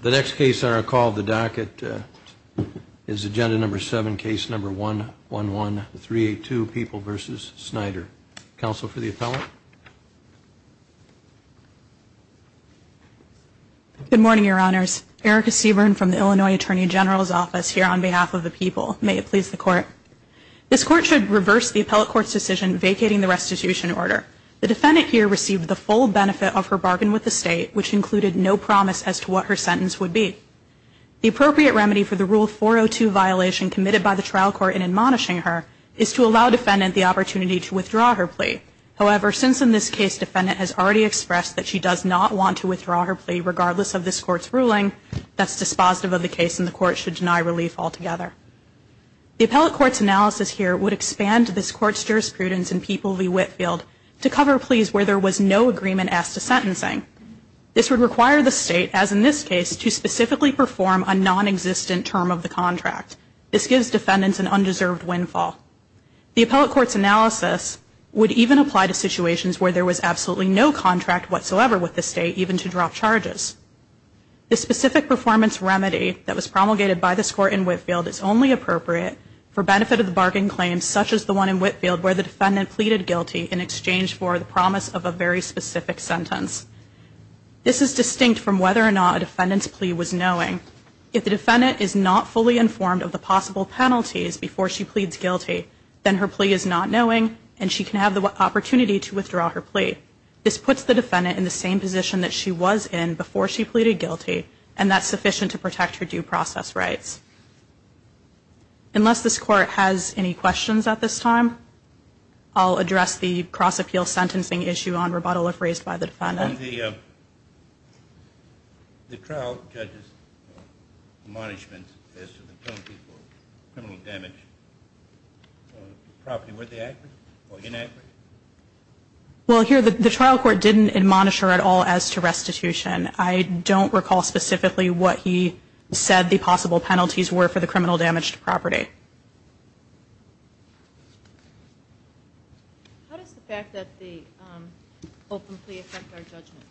The next case on our call of the docket is agenda number 7, case number 111382, People v. Snyder. Counsel for the appellant. Good morning, your honors. Erica Seaborn from the Illinois Attorney General's office here on behalf of the people. May it please the court. This court should reverse the appellate court's decision vacating the restitution order. The defendant here received the full benefit of her bargain with the state, which included no promise as to what her sentence would be. The appropriate remedy for the Rule 402 violation committed by the trial court in admonishing her is to allow defendant the opportunity to withdraw her plea. However, since in this case defendant has already expressed that she does not want to withdraw her plea regardless of this court's ruling, that's dispositive of the case and the court should deny relief altogether. The appellate court's analysis here would expand this court's jurisprudence in People v. Whitfield to cover pleas where there was no agreement as to sentencing. This would require the state, as in this case, to specifically perform a non-existent term of the contract. This gives defendants an undeserved windfall. The appellate court's analysis would even apply to situations where there was absolutely no contract whatsoever with the state, even to drop charges. The specific performance remedy that was promulgated by this court in Whitfield is only appropriate for benefit of the bargain claim, such as the one in Whitfield where the defendant pleaded guilty in exchange for the promise of a very specific sentence. This is distinct from whether or not a defendant's plea was knowing. If the defendant is not fully informed of the possible penalties before she pleads guilty, then her plea is not knowing and she can have the opportunity to withdraw her plea. This puts the defendant in the same position that she was in before she pleaded guilty, and that's sufficient to protect her due process rights. Unless this court has any questions at this time, I'll address the cross-appeal sentencing issue on rebuttal if raised by the defendant. On the trial judge's admonishment as to the penalty for criminal damage to property, were they accurate or inaccurate? Well, here the trial court didn't admonish her at all as to restitution. I don't recall specifically what he said the possible penalties were for the criminal damage to property. How does the fact that the open plea affect our judgment?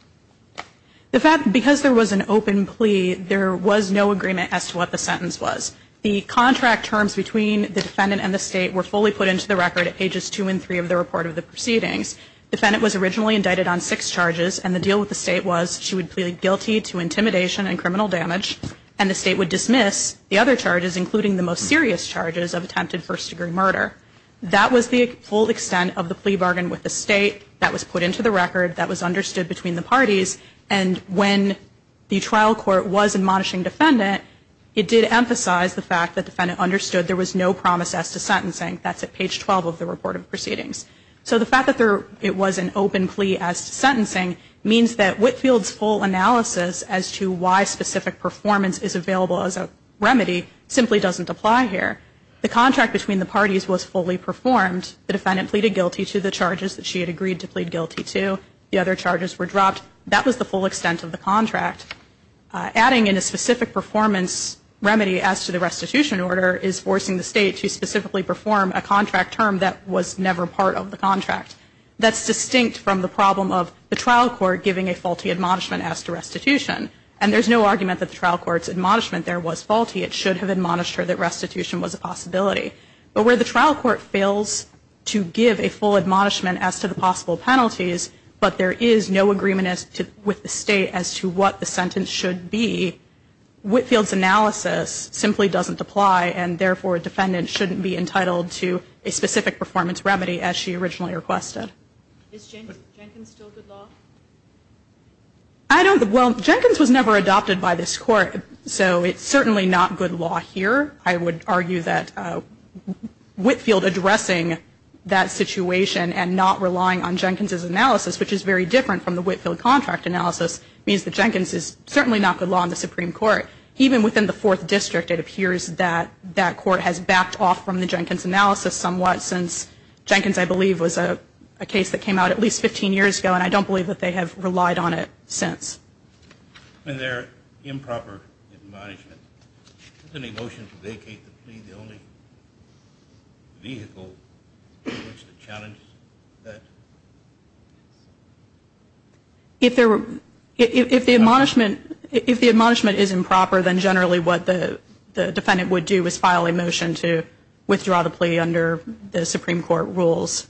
Because there was an open plea, there was no agreement as to what the sentence was. The contract terms between the defendant and the State were fully put into the record at pages 2 and 3 of the report of the proceedings. The defendant was originally indicted on six charges, and the deal with the State was she would plead guilty to intimidation and criminal damage, and the State would dismiss the other charges, including the most serious charges, of attempted first-degree murder. That was the full extent of the plea bargain with the State. That was put into the record. That was understood between the parties, and when the trial court was admonishing the defendant, it did emphasize the fact that the defendant understood there was no promise as to sentencing. That's at page 12 of the report of the proceedings. So the fact that it was an open plea as to sentencing means that Whitefield's full analysis as to why specific performance is available as a remedy simply doesn't apply here. The contract between the parties was fully performed. The defendant pleaded guilty to the charges that she had agreed to plead guilty to. The other charges were dropped. That was the full extent of the contract. Adding in a specific performance remedy as to the restitution order is forcing the State that's distinct from the problem of the trial court giving a faulty admonishment as to restitution. And there's no argument that the trial court's admonishment there was faulty. It should have admonished her that restitution was a possibility. But where the trial court fails to give a full admonishment as to the possible penalties, but there is no agreement with the State as to what the sentence should be, Whitefield's analysis simply doesn't apply, and therefore, defendant shouldn't be entitled to a specific performance remedy as she originally requested. Is Jenkins still good law? I don't know. Well, Jenkins was never adopted by this Court, so it's certainly not good law here. I would argue that Whitefield addressing that situation and not relying on Jenkins' analysis, which is very different from the Whitefield contract analysis, means that Jenkins is certainly not good law in the Supreme Court. Even within the Fourth District, it appears that that Court has backed off from the Jenkins analysis somewhat since Jenkins, I believe, was a case that came out at least 15 years ago, and I don't believe that they have relied on it since. In their improper admonishment, isn't a motion to vacate the plea the only vehicle in which to challenge that? If the admonishment is improper, then generally what the defendant would do is file a motion to withdraw the plea under the Supreme Court rules.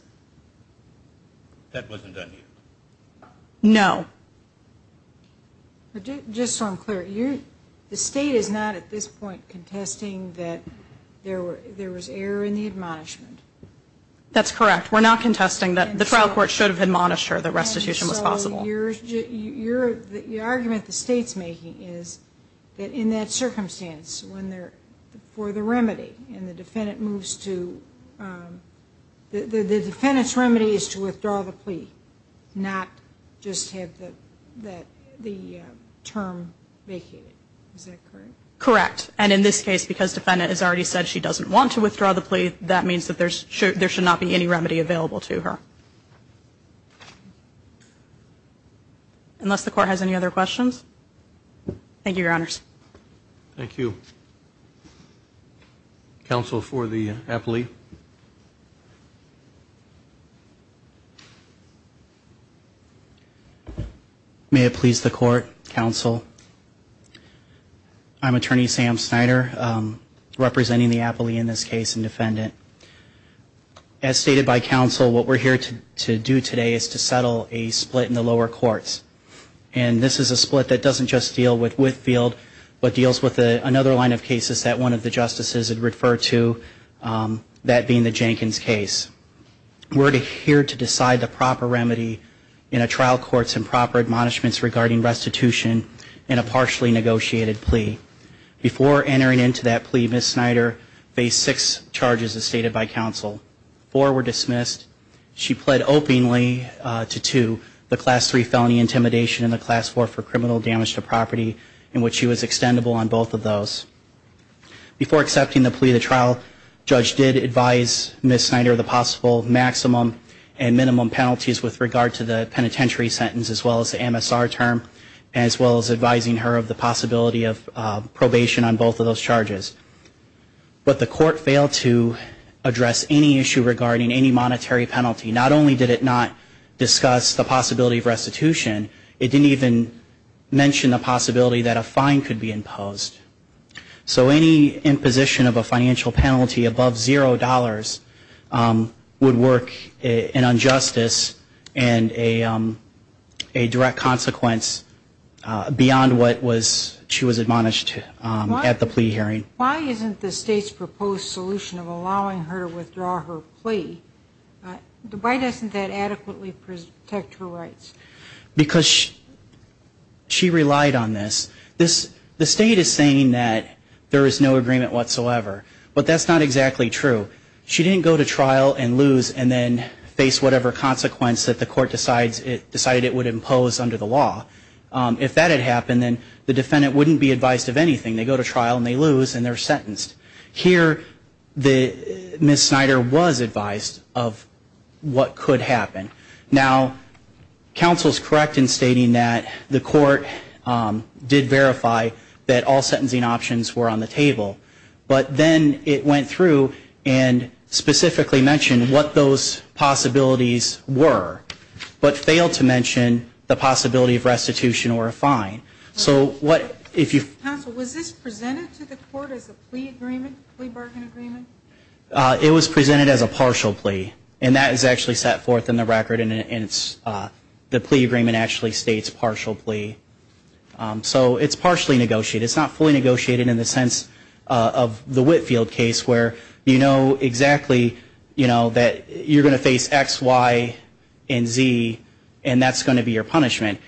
That wasn't done here? No. Just so I'm clear, the State is not at this point contesting that there was error in the admonishment? That's correct. We're not contesting that. The trial court should have admonished her that restitution was possible. So the argument the State's making is that in that circumstance, for the remedy and the defendant moves to the defendant's remedy is to withdraw the plea, not just have the term vacated. Is that correct? Correct. And in this case, because the defendant has already said she doesn't want to withdraw the plea, that means that there should not be any remedy available to her. Unless the Court has any other questions. Thank you, Your Honors. Thank you. Counsel for the appellee. May it please the Court, Counsel. I'm Attorney Sam Snyder, representing the appellee in this case and defendant. As stated by counsel, what we're here to do today is to settle a split in the lower courts. And this is a split that doesn't just deal with Whitfield, but deals with another line of cases that one of the justices had referred to, that being the Jenkins case. We're here to decide the proper remedy in a trial court's improper admonishments regarding restitution and a partially negotiated plea. Before entering into that plea, Ms. Snyder faced six charges, as stated by counsel. Four were dismissed. She pled openly to two, the Class III felony intimidation and the Class IV for criminal damage to property, in which she was extendable on both of those. Before accepting the plea to trial, Judge did advise Ms. Snyder of the possible maximum and minimum penalties with regard to the penitentiary sentence, as well as the MSR term, as well as advising her of the possibility of probation on both of those charges. But the Court failed to address any issue regarding any monetary penalty. Not only did it not discuss the possibility of restitution, it didn't even mention the possibility that a fine could be imposed. So any imposition of a financial penalty above $0 would work an injustice and a direct consequence beyond what she was admonished at the plea hearing. Why isn't the State's proposed solution of allowing her to withdraw her plea, why doesn't that adequately protect her rights? Because she relied on this. The State is saying that there is no agreement whatsoever, but that's not exactly true. She didn't go to trial and lose and then face whatever consequence that the Court decided it would impose under the law. If that had happened, then the defendant wouldn't be advised of anything. They go to trial and they lose and they're sentenced. Here, Ms. Snyder was advised of what could happen. Now, counsel is correct in stating that the Court did verify that all sentencing options were on the table. But then it went through and specifically mentioned what those possibilities were, but failed to mention the possibility of restitution or a fine. Counsel, was this presented to the Court as a plea agreement, plea bargain agreement? It was presented as a partial plea, and that is actually set forth in the record and the plea agreement actually states partial plea. So it's partially negotiated, it's not fully negotiated in the sense of the Whitfield case where you know exactly that you're going to face X, Y, and Z, and that's going to be your punishment.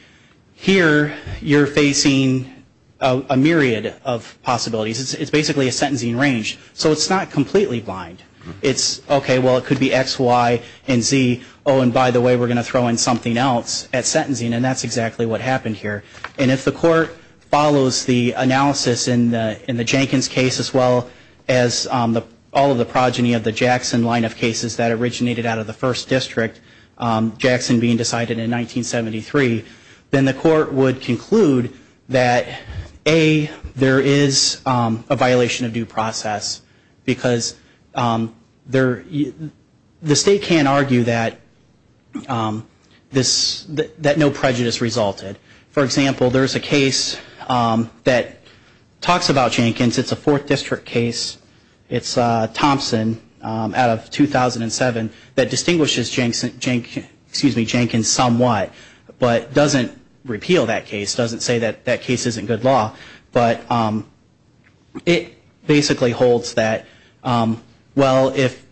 Here, you're facing a myriad of possibilities. It's basically a sentencing range, so it's not completely blind. It's okay, well, it could be X, Y, and Z, oh, and by the way, we're going to throw in something else at sentencing, and that's exactly what happened here. And if the Court follows the analysis in the Jenkins case as well as all of the progeny of the Jackson line of cases that originated out of the first district, Jackson being decided in 1973, then the Court would conclude that A, there is a violation of due process, because the state can't argue that no prejudice resulted. For example, there's a case that talks about Jenkins, it's a fourth district case, it's Thompson out of 2007 that distinguishes Jenkins somewhat, but doesn't repeal that case, doesn't say that that case isn't good law, but it basically holds that, well, if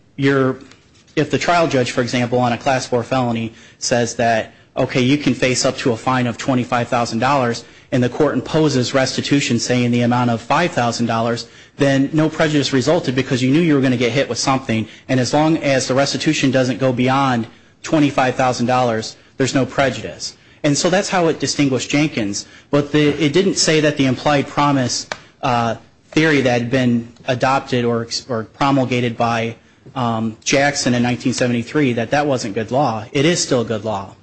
the trial judge, for example, on a Class 4 felony says that, okay, you can face up to a fine of $25,000, and the Court imposes restitution saying the amount of $5,000, then no prejudice resulted because you knew you were going to get hit with something, and as long as the restitution doesn't go beyond $25,000, there's no prejudice. And so that's how it distinguished Jenkins, but it didn't say that the implied promise theory that had been adopted or promulgated by Jackson in 1973, that that wasn't good law. It is still good law.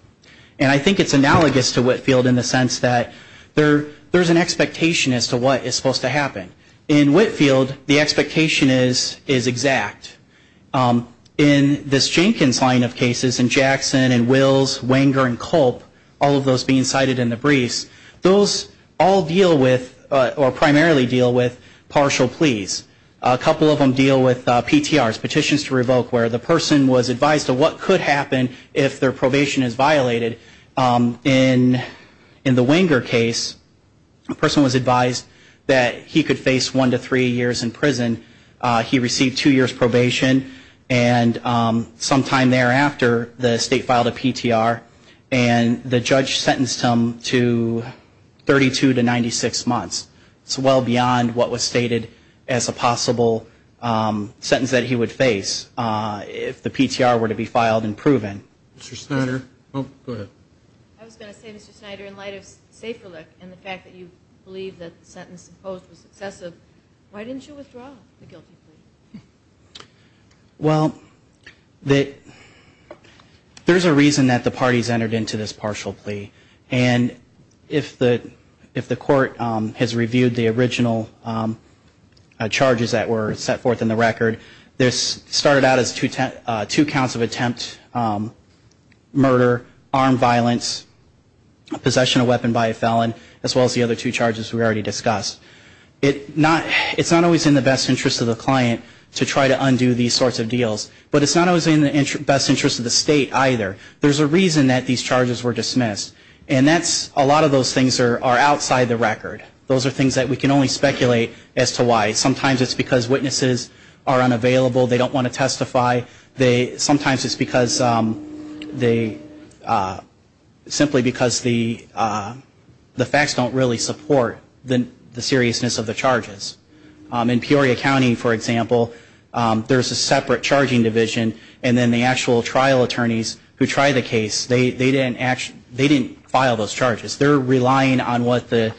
And I think it's analogous to Whitefield in the sense that there's an expectation as to what is supposed to happen. In Whitefield, the expectation is exact. In this Jenkins line of cases, in Jackson, in Wills, Wenger, and Culp, all of those being cited in the briefs, those all deal with or primarily deal with partial pleas. A couple of them deal with PTRs, petitions to revoke, where the person was advised of what could happen if their probation is violated. In the Wenger case, a person was advised that he could face one to three years in prison. He received two years probation, and sometime thereafter, the state filed a PTR, and the judge sentenced him to 32 to 96 months. It's well beyond what was stated as a possible sentence that he would face if the PTR were to be filed and proven. Mr. Snyder. I was going to say, Mr. Snyder, in light of Saferlick and the fact that you believe that the sentence imposed was excessive, why didn't you withdraw the guilty plea? Well, there's a reason that the parties entered into this partial plea. And if the court has reviewed the original charges that were set forth in the record, this started out as two counts of attempt, murder, armed violence, possession of a weapon by a felon, as well as the other two charges we already discussed. It's not always in the best interest of the client to try to undo these sorts of deals, but it's not always in the best interest of the state either. There's a reason that these charges were dismissed, and a lot of those things are outside the record. Those are things that we can only speculate as to why. Sometimes it's because witnesses are unavailable. They don't want to testify. Sometimes it's simply because the facts don't really support the seriousness of the charges. In Peoria County, for example, there's a separate charging division, and then the actual trial attorneys who try the case, they didn't file those charges. They're relying on what the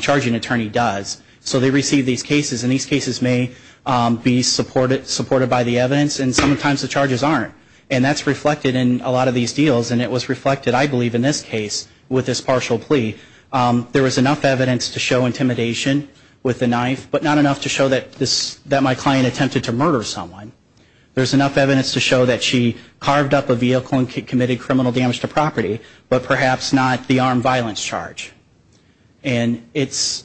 charging attorney does. So they receive these cases, and these cases may be supported by the evidence, and sometimes the charges aren't. And that's reflected in a lot of these deals, and it was reflected, I believe, in this case with this partial plea. There was enough evidence to show intimidation with the knife, but not enough to show that my client attempted to murder someone. There's enough evidence to show that she carved up a vehicle and committed criminal damage to property, but perhaps not the armed violence charge. And it's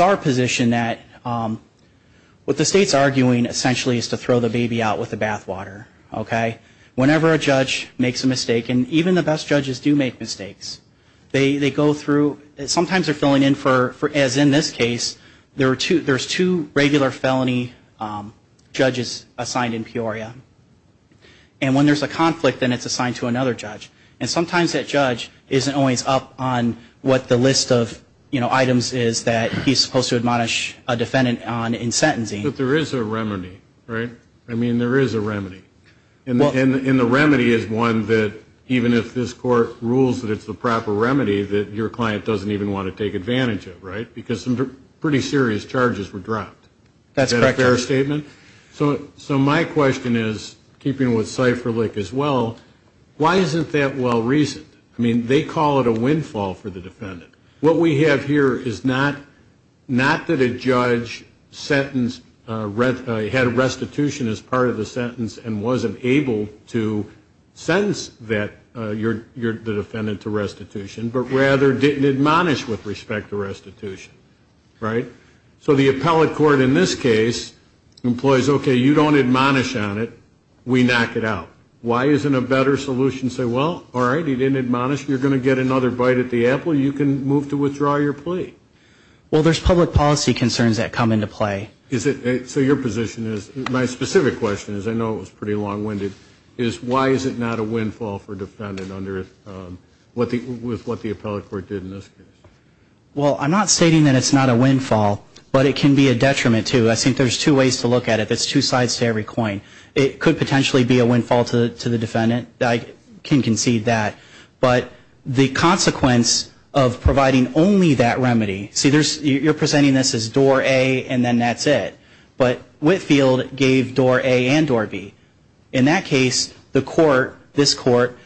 our position that what the state's arguing essentially is to throw the baby out with the bathwater. Whenever a judge makes a mistake, and even the best judges do make mistakes, they go through, sometimes they're filling in for, as in this case, there's two regular felony judges assigned in Peoria. And when there's a conflict, then it's assigned to another judge. And sometimes that judge isn't always up on what the list of items is that he's supposed to admonish a defendant on in sentencing. But there is a remedy, right? I mean, there is a remedy. And the remedy is one that, even if this court rules that it's the proper remedy, that your client doesn't even want to take advantage of, right? Because some pretty serious charges were dropped. Is that a fair statement? So my question is, keeping with cipher lick as well, why isn't that well-reasoned? I mean, they call it a windfall for the defendant. What we have here is not that a judge had restitution as part of the sentence and wasn't able to sentence the defendant to restitution, but rather didn't admonish with respect to restitution, right? So the appellate court in this case employs, okay, you don't admonish on it, we knock it out. Why isn't a better solution to say, well, all right, he didn't admonish, you're going to get another bite at the apple, you can move to withdraw your plea? Well, there's public policy concerns that come into play. So your position is, my specific question is, I know it was pretty long-winded, is why is it not a windfall for a defendant with what the appellate court did in this case? Well, I'm not stating that it's not a windfall, but it can be a detriment too. I think there's two ways to look at it. There's two sides to every coin. It could potentially be a windfall to the defendant. I can concede that. But the consequence of providing only that remedy, see, you're presenting this as door A, and then that's it. But Whitfield gave door A and door B. In that case, the court, this court,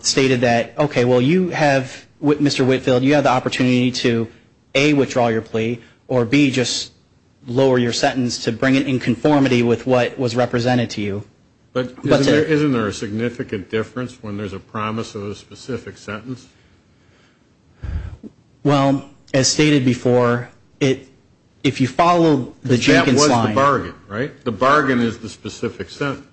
stated that, okay, well, you have, Mr. Whitfield, you have the opportunity to A, withdraw your plea, or B, just lower your sentence to bring it in conformity with what was represented to you. But isn't there a significant difference when there's a promise of a specific sentence? Well, as stated before, if you follow the Jenkins line. That was the bargain, right? The bargain is the specific sentence.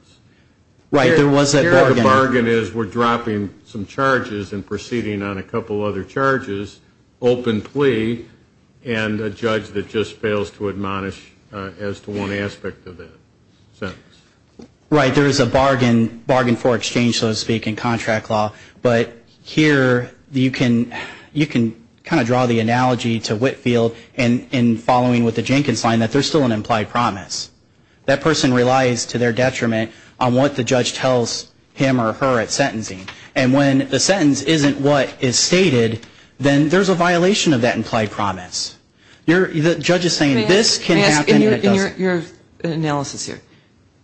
Right, there was that bargain. Here the bargain is we're dropping some charges and proceeding on a couple other charges, open plea, and a judge that just fails to admonish as to one aspect of that sentence. Right, there is a bargain for exchange, so to speak, in contract law. But here you can kind of draw the analogy to Whitfield in following with the Jenkins line that there's still an implied promise. That person relies to their detriment on what the judge tells him or her at sentencing. And when the sentence isn't what is stated, then there's a violation of that implied promise. The judge is saying this can happen and it doesn't. May I ask, in your analysis here,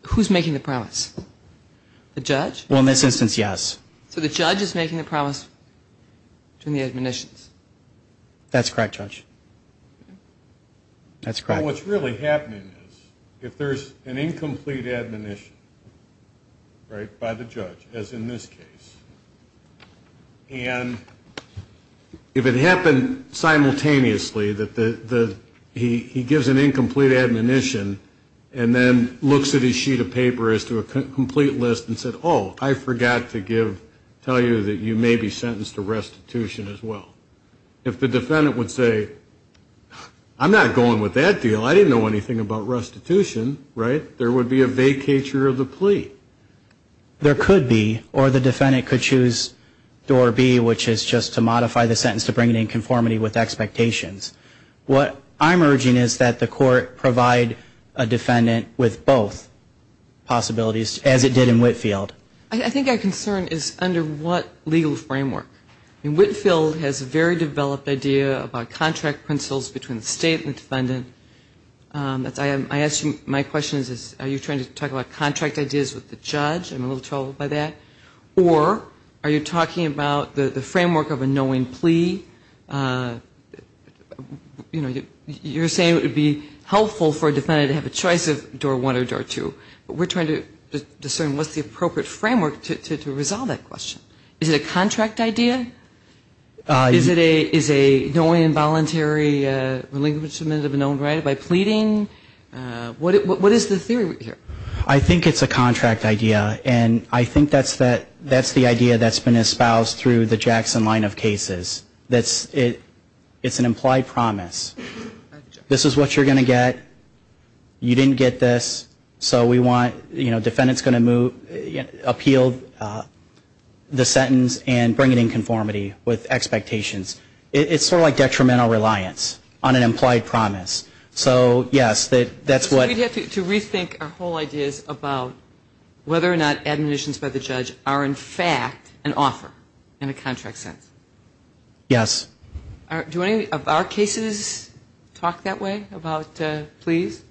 who's making the promise? The judge? Well, in this instance, yes. So the judge is making the promise to the admonitions? That's correct, Judge. That's correct. Well, what's really happening is if there's an incomplete admonition, right, by the judge, as in this case, and if it happened simultaneously that he gives an incomplete admonition and then looks at his sheet of paper as to a complete list and said, oh, I forgot to tell you that you may be sentenced to restitution as well. If the defendant would say, I'm not going with that deal. I didn't know anything about restitution, right, there would be a vacatur of the plea. There could be, or the defendant could choose door B, which is just to modify the sentence to bring it in conformity with expectations. What I'm urging is that the court provide a defendant with both possibilities, as it did in Whitfield. I think our concern is under what legal framework? I mean, Whitfield has a very developed idea about contract principles between the state and defendant. I ask you, my question is, are you trying to talk about contract ideas with the judge? I'm a little troubled by that. Or are you talking about the framework of a knowing plea? You know, you're saying it would be helpful for a defendant to have a choice of door one or door two. But we're trying to discern what's the appropriate framework to resolve that question. Is it a contract idea? Is it a knowing involuntary relinquishment of an owned right by pleading? What is the theory here? I think it's a contract idea. And I think that's the idea that's been espoused through the Jackson line of cases. It's an implied promise. This is what you're going to get. You didn't get this. So we want, you know, defendant's going to move, appeal the sentence and bring it in conformity with expectations. It's sort of like detrimental reliance on an implied promise. So, yes, that's what. We'd have to rethink our whole ideas about whether or not admonitions by the judge are in fact an offer in a contract sense. Yes. Do any of our cases talk that way about pleas?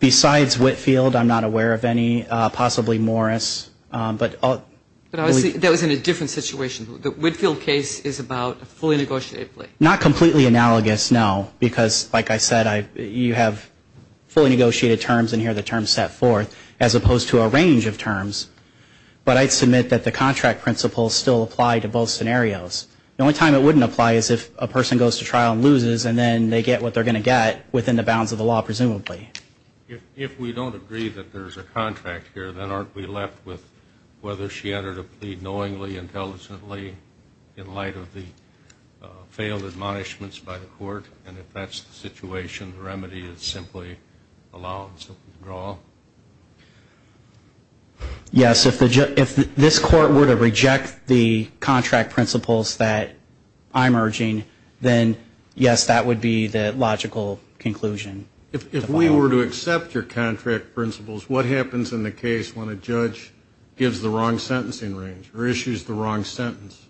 Besides Whitfield, I'm not aware of any. Possibly Morris. But that was in a different situation. The Whitfield case is about a fully negotiated plea. Not completely analogous, no. Because, like I said, you have fully negotiated terms, and here the terms set forth, as opposed to a range of terms. But I'd submit that the contract principles still apply to both scenarios. The only time it wouldn't apply is if a person goes to trial and loses, and then they get what they're going to get within the boundaries of the contract. That's the bounds of the law, presumably. If we don't agree that there's a contract here, then aren't we left with whether she entered a plea knowingly, intelligently, in light of the failed admonishments by the court? And if that's the situation, the remedy is simply allowance withdrawal? Yes. If this court were to reject the contract principles that I'm urging, then, yes, that would be the logical conclusion. If we were to accept your contract principles, what happens in the case when a judge gives the wrong sentencing range or issues the wrong sentence?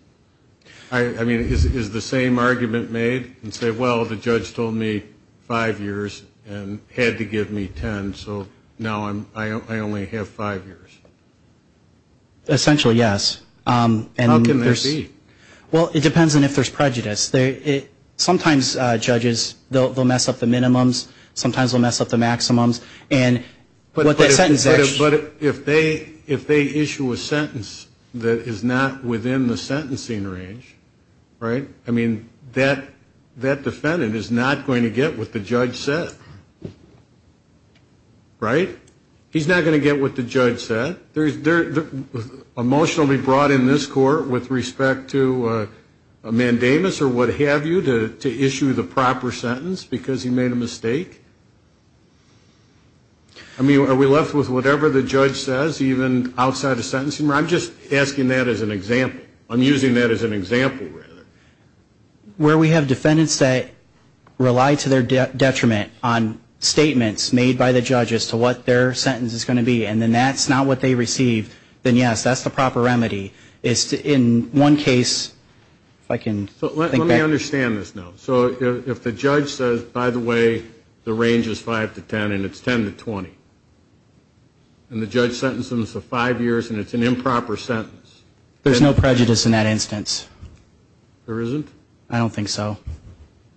I mean, is the same argument made and say, well, the judge told me five years and had to give me ten, so now I only have five years? Essentially, yes. How can that be? Well, it depends on if there's prejudice. Sometimes judges, they'll mess up the minimums. Sometimes they'll mess up the maximums. But if they issue a sentence that is not within the sentencing range, right, I mean, that defendant is not going to get what the judge said. Right? He's not going to get what the judge said. A motion will be brought in this court with respect to a mandamus or what have you to issue the proper sentence because he made a mistake? I mean, are we left with whatever the judge says, even outside of sentencing? I'm just asking that as an example. I'm using that as an example, rather. Where we have defendants that rely to their detriment on statements made by the judge as to what their sentence is going to be, and then that's not what they receive, then yes, that's the proper remedy. In one case, if I can think back. Let me understand this now. So if the judge says, by the way, the range is five to ten and it's ten to 20, and the judge sentences them for five years and it's an improper sentence. There's no prejudice in that instance. There isn't? I don't think so.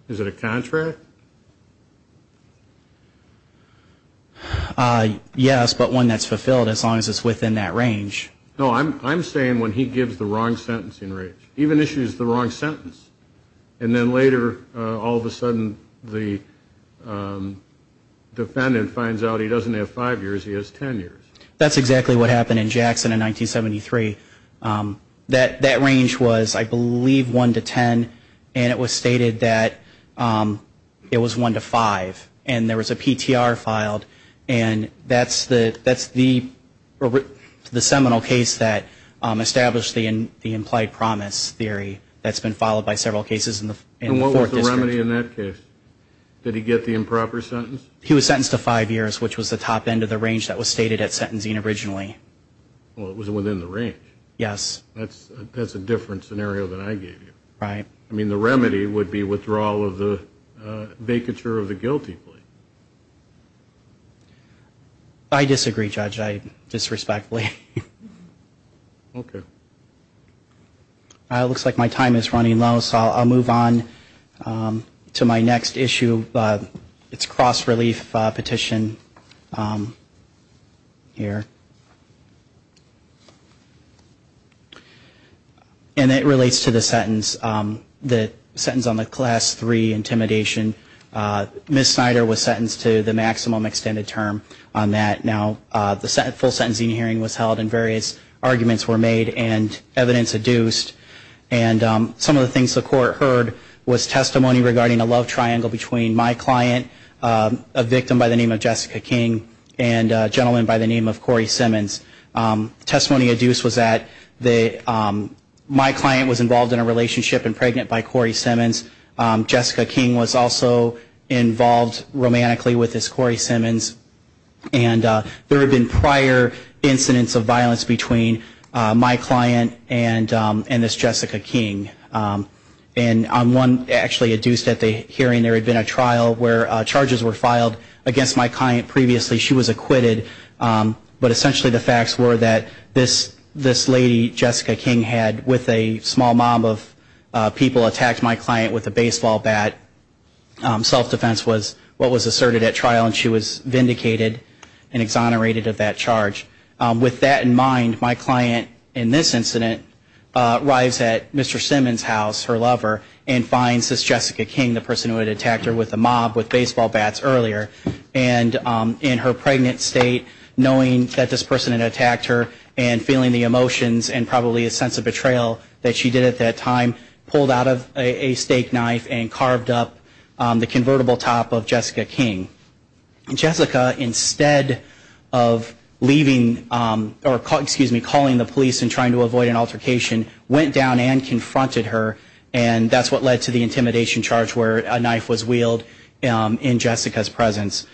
Is it a contract? Yes, but one that's fulfilled as long as it's within that range. No, I'm saying when he gives the wrong sentencing range. Even issues the wrong sentence. And then later, all of a sudden, the defendant finds out he doesn't have five years, he has ten years. That's exactly what happened in Jackson in 1973. That range was, I believe, one to ten. And it was stated that it was one to five. And there was a PTR filed. And that's the seminal case that established the implied promise theory that's been followed by several cases. And what was the remedy in that case? Did he get the improper sentence? He was sentenced to five years, which was the top end of the range that was stated at sentencing originally. Well, it was within the range. Yes. That's a different scenario than I gave you. Right. I mean, the remedy would be withdrawal of the vacature of the guilty plea. I disagree, Judge. I disrespect plea. Okay. It looks like my time is running low, so I'll move on to my next issue. It's cross-relief petition here. And it relates to the sentence, the sentence on the class three intimidation. Ms. Snyder was sentenced to the maximum extended term on that. Now, the full sentencing hearing was held, and various arguments were made and evidence adduced. And some of the things the court heard was testimony regarding a love triangle between my client, a victim by the name of Jessica King, and a gentleman by the name of Corey Simmons. Testimony adduced was that my client was involved in a relationship and pregnant by Corey Simmons. Jessica King was also involved romantically with this Corey Simmons. And there had been prior incidents of violence between my client and this Jessica King. And on one, actually, adduced at the hearing, there had been a trial where charges were filed against my client previously. She was acquitted. But essentially the facts were that this lady, Jessica King, had, with a small mob of people, attacked my client with a baseball bat. Self-defense was what was asserted at trial, and she was vindicated and exonerated of that charge. With that in mind, my client, in this incident, arrives at Mr. Simmons' house, her lover, and finds this Jessica King, the person who had attacked her with a mob, with baseball bats earlier. And in her pregnant state, knowing that this person had attacked her, and feeling the emotions and probably a sense of betrayal that she did at that time, pulled out of a steak knife and carved up the convertible top of Jessica King. And Jessica, instead of leaving, or excuse me, calling the police and trying to avoid an altercation, went down and confronted her, and that's what led to the intimidation charge where a knife was wield in Jessica's presence.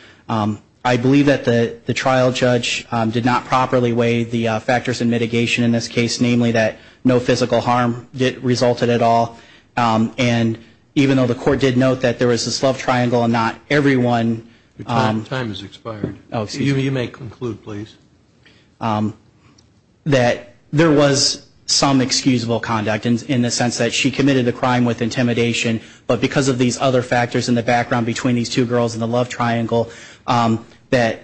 I believe that the trial judge did not properly weigh the factors in mitigation in this case, namely that no physical harm resulted at all. And even though the court did note that there was this love triangle and not everyone... Your time has expired. You may conclude, please. ...that there was some excusable conduct in the sense that she committed a crime with intimidation, but because of these other factors in the background between these two girls and the love triangle, that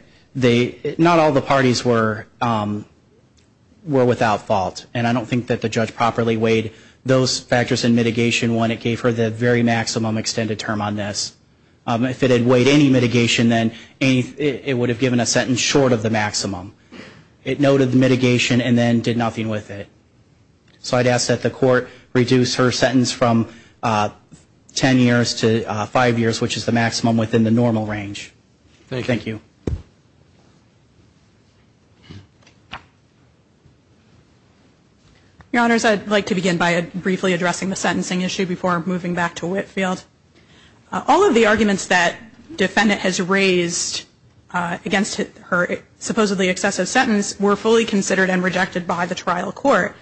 not all the parties were without fault. And I don't think that the judge properly weighed those factors in mitigation when it gave her the very maximum extended term on this. If it had weighed any mitigation, then it would have given a sentence short of the maximum. It noted the mitigation and then did nothing with it. So I'd ask that the court reduce her sentence from ten years to five years, which is the maximum within the normal range. Thank you. Your Honors, I'd like to begin by briefly addressing the sentencing issue before moving back to Whitfield. All of the arguments that defendant has raised against her supposedly excessive sentence were fully considered and rejected by the trial court.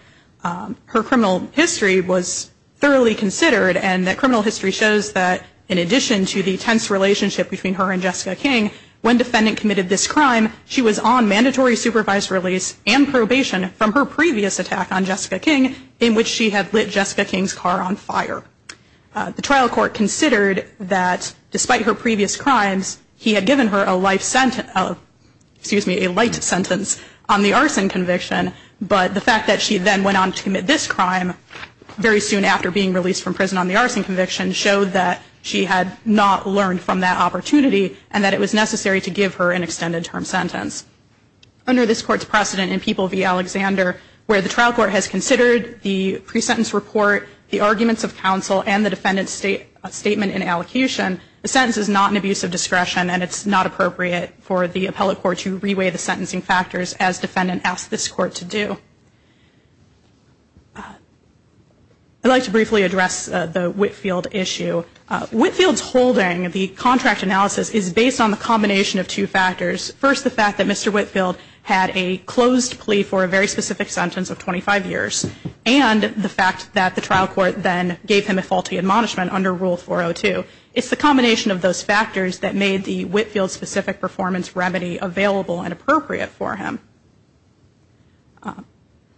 Her criminal history was thoroughly considered, and that criminal history shows that, in addition to the tense relationship between her and Jessica King, when defendant committed this crime, she was on mandatory supervised release and probation from her previous attack on Jessica King, in which she had lit Jessica King's car on fire. The trial court considered that, despite her previous crimes, he had given her a light sentence on the arson conviction, but the fact that she then went on to commit this crime very soon after being released from prison on the arson conviction showed that she had not learned from that opportunity, and that it was necessary to give her an extended term sentence. Under this Court's precedent in People v. Alexander, where the trial court has considered the pre-sentence report, the arguments of counsel, and the defendant's statement in allocation, a sentence is not an abuse of discretion, and it's not appropriate for the appellate court to reweigh the sentencing factors as defendant asked this court to do. I'd like to briefly address the Whitfield issue. Whitfield's holding, the contract analysis, is based on the combination of two factors. First, the fact that Mr. Whitfield had a closed plea for a very specific sentence of 25 years, and the fact that the trial court then gave him a faulty admonishment under Rule 402. It's the combination of those factors that made the Whitfield specific performance remedy available and appropriate for him.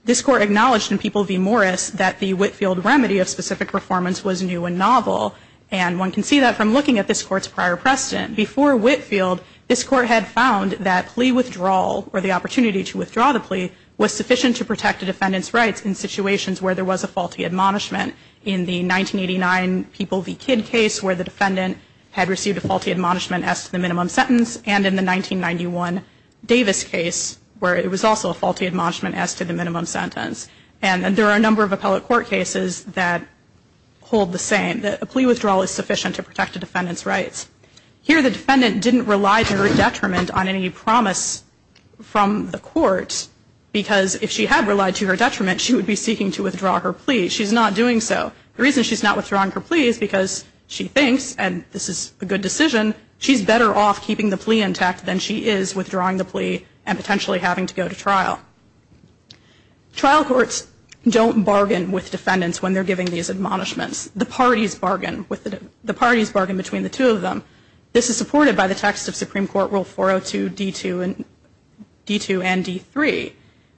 This Court acknowledged in People v. Morris that the Whitfield remedy of specific performance was new and novel, and one can see that from looking at this Court's prior precedent. Before Whitfield, this Court had found that plea withdrawal, or the opportunity to withdraw the plea, was sufficient to protect a defendant's rights in situations where there was a faulty admonishment. In the 1989 People v. Kidd case, where the defendant had received a faulty admonishment as to the minimum sentence, and in the 1991 Davis case, where it was also a faulty admonishment as to the minimum sentence. And there are a number of appellate court cases that hold the same, that a plea withdrawal is sufficient to protect a defendant's rights. Here, the defendant didn't rely to her detriment on any promise from the court, because if she had relied to her detriment, she would be seeking to withdraw her plea. She's not doing so. The reason she's not withdrawing her plea is because she thinks, and this is a good decision, she's better off keeping the plea intact than she is withdrawing the plea and potentially having to go to trial. Trial courts don't bargain with defendants when they're giving these admonishments. The parties bargain between the two of them. This is supported by the text of Supreme Court Rule 402, D2, and D3.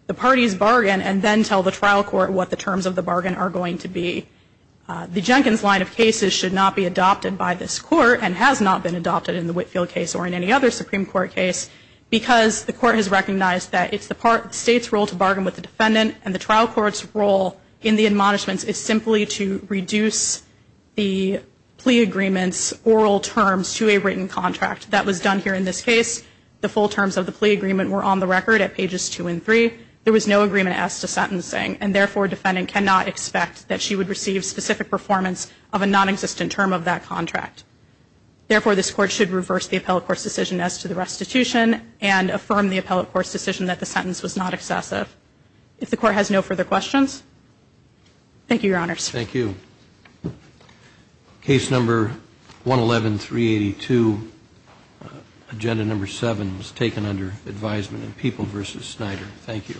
The parties bargain and then tell the trial court what the terms of the bargain are going to be. The Jenkins line of cases should not be adopted by this court and has not been adopted in the Whitfield case or in any other Supreme Court case, because the court has recognized that it's the state's role to bargain with the defendant and the trial court's role in the admonishments is simply to reduce the plea agreement's oral terms to a written contract. That was done here in this case. The full terms of the plea agreement were on the record at pages 2 and 3. There was no agreement as to sentencing, and therefore a defendant cannot expect that she would receive specific performance of a nonexistent term of that contract. Therefore, this court should reverse the appellate court's decision as to the restitution and affirm the appellate court's decision that the sentence was not excessive. If the court has no further questions, thank you, Your Honors. Thank you. Case number 111382, Agenda Number 7, is taken under advisement in People v. Snyder. Thank you.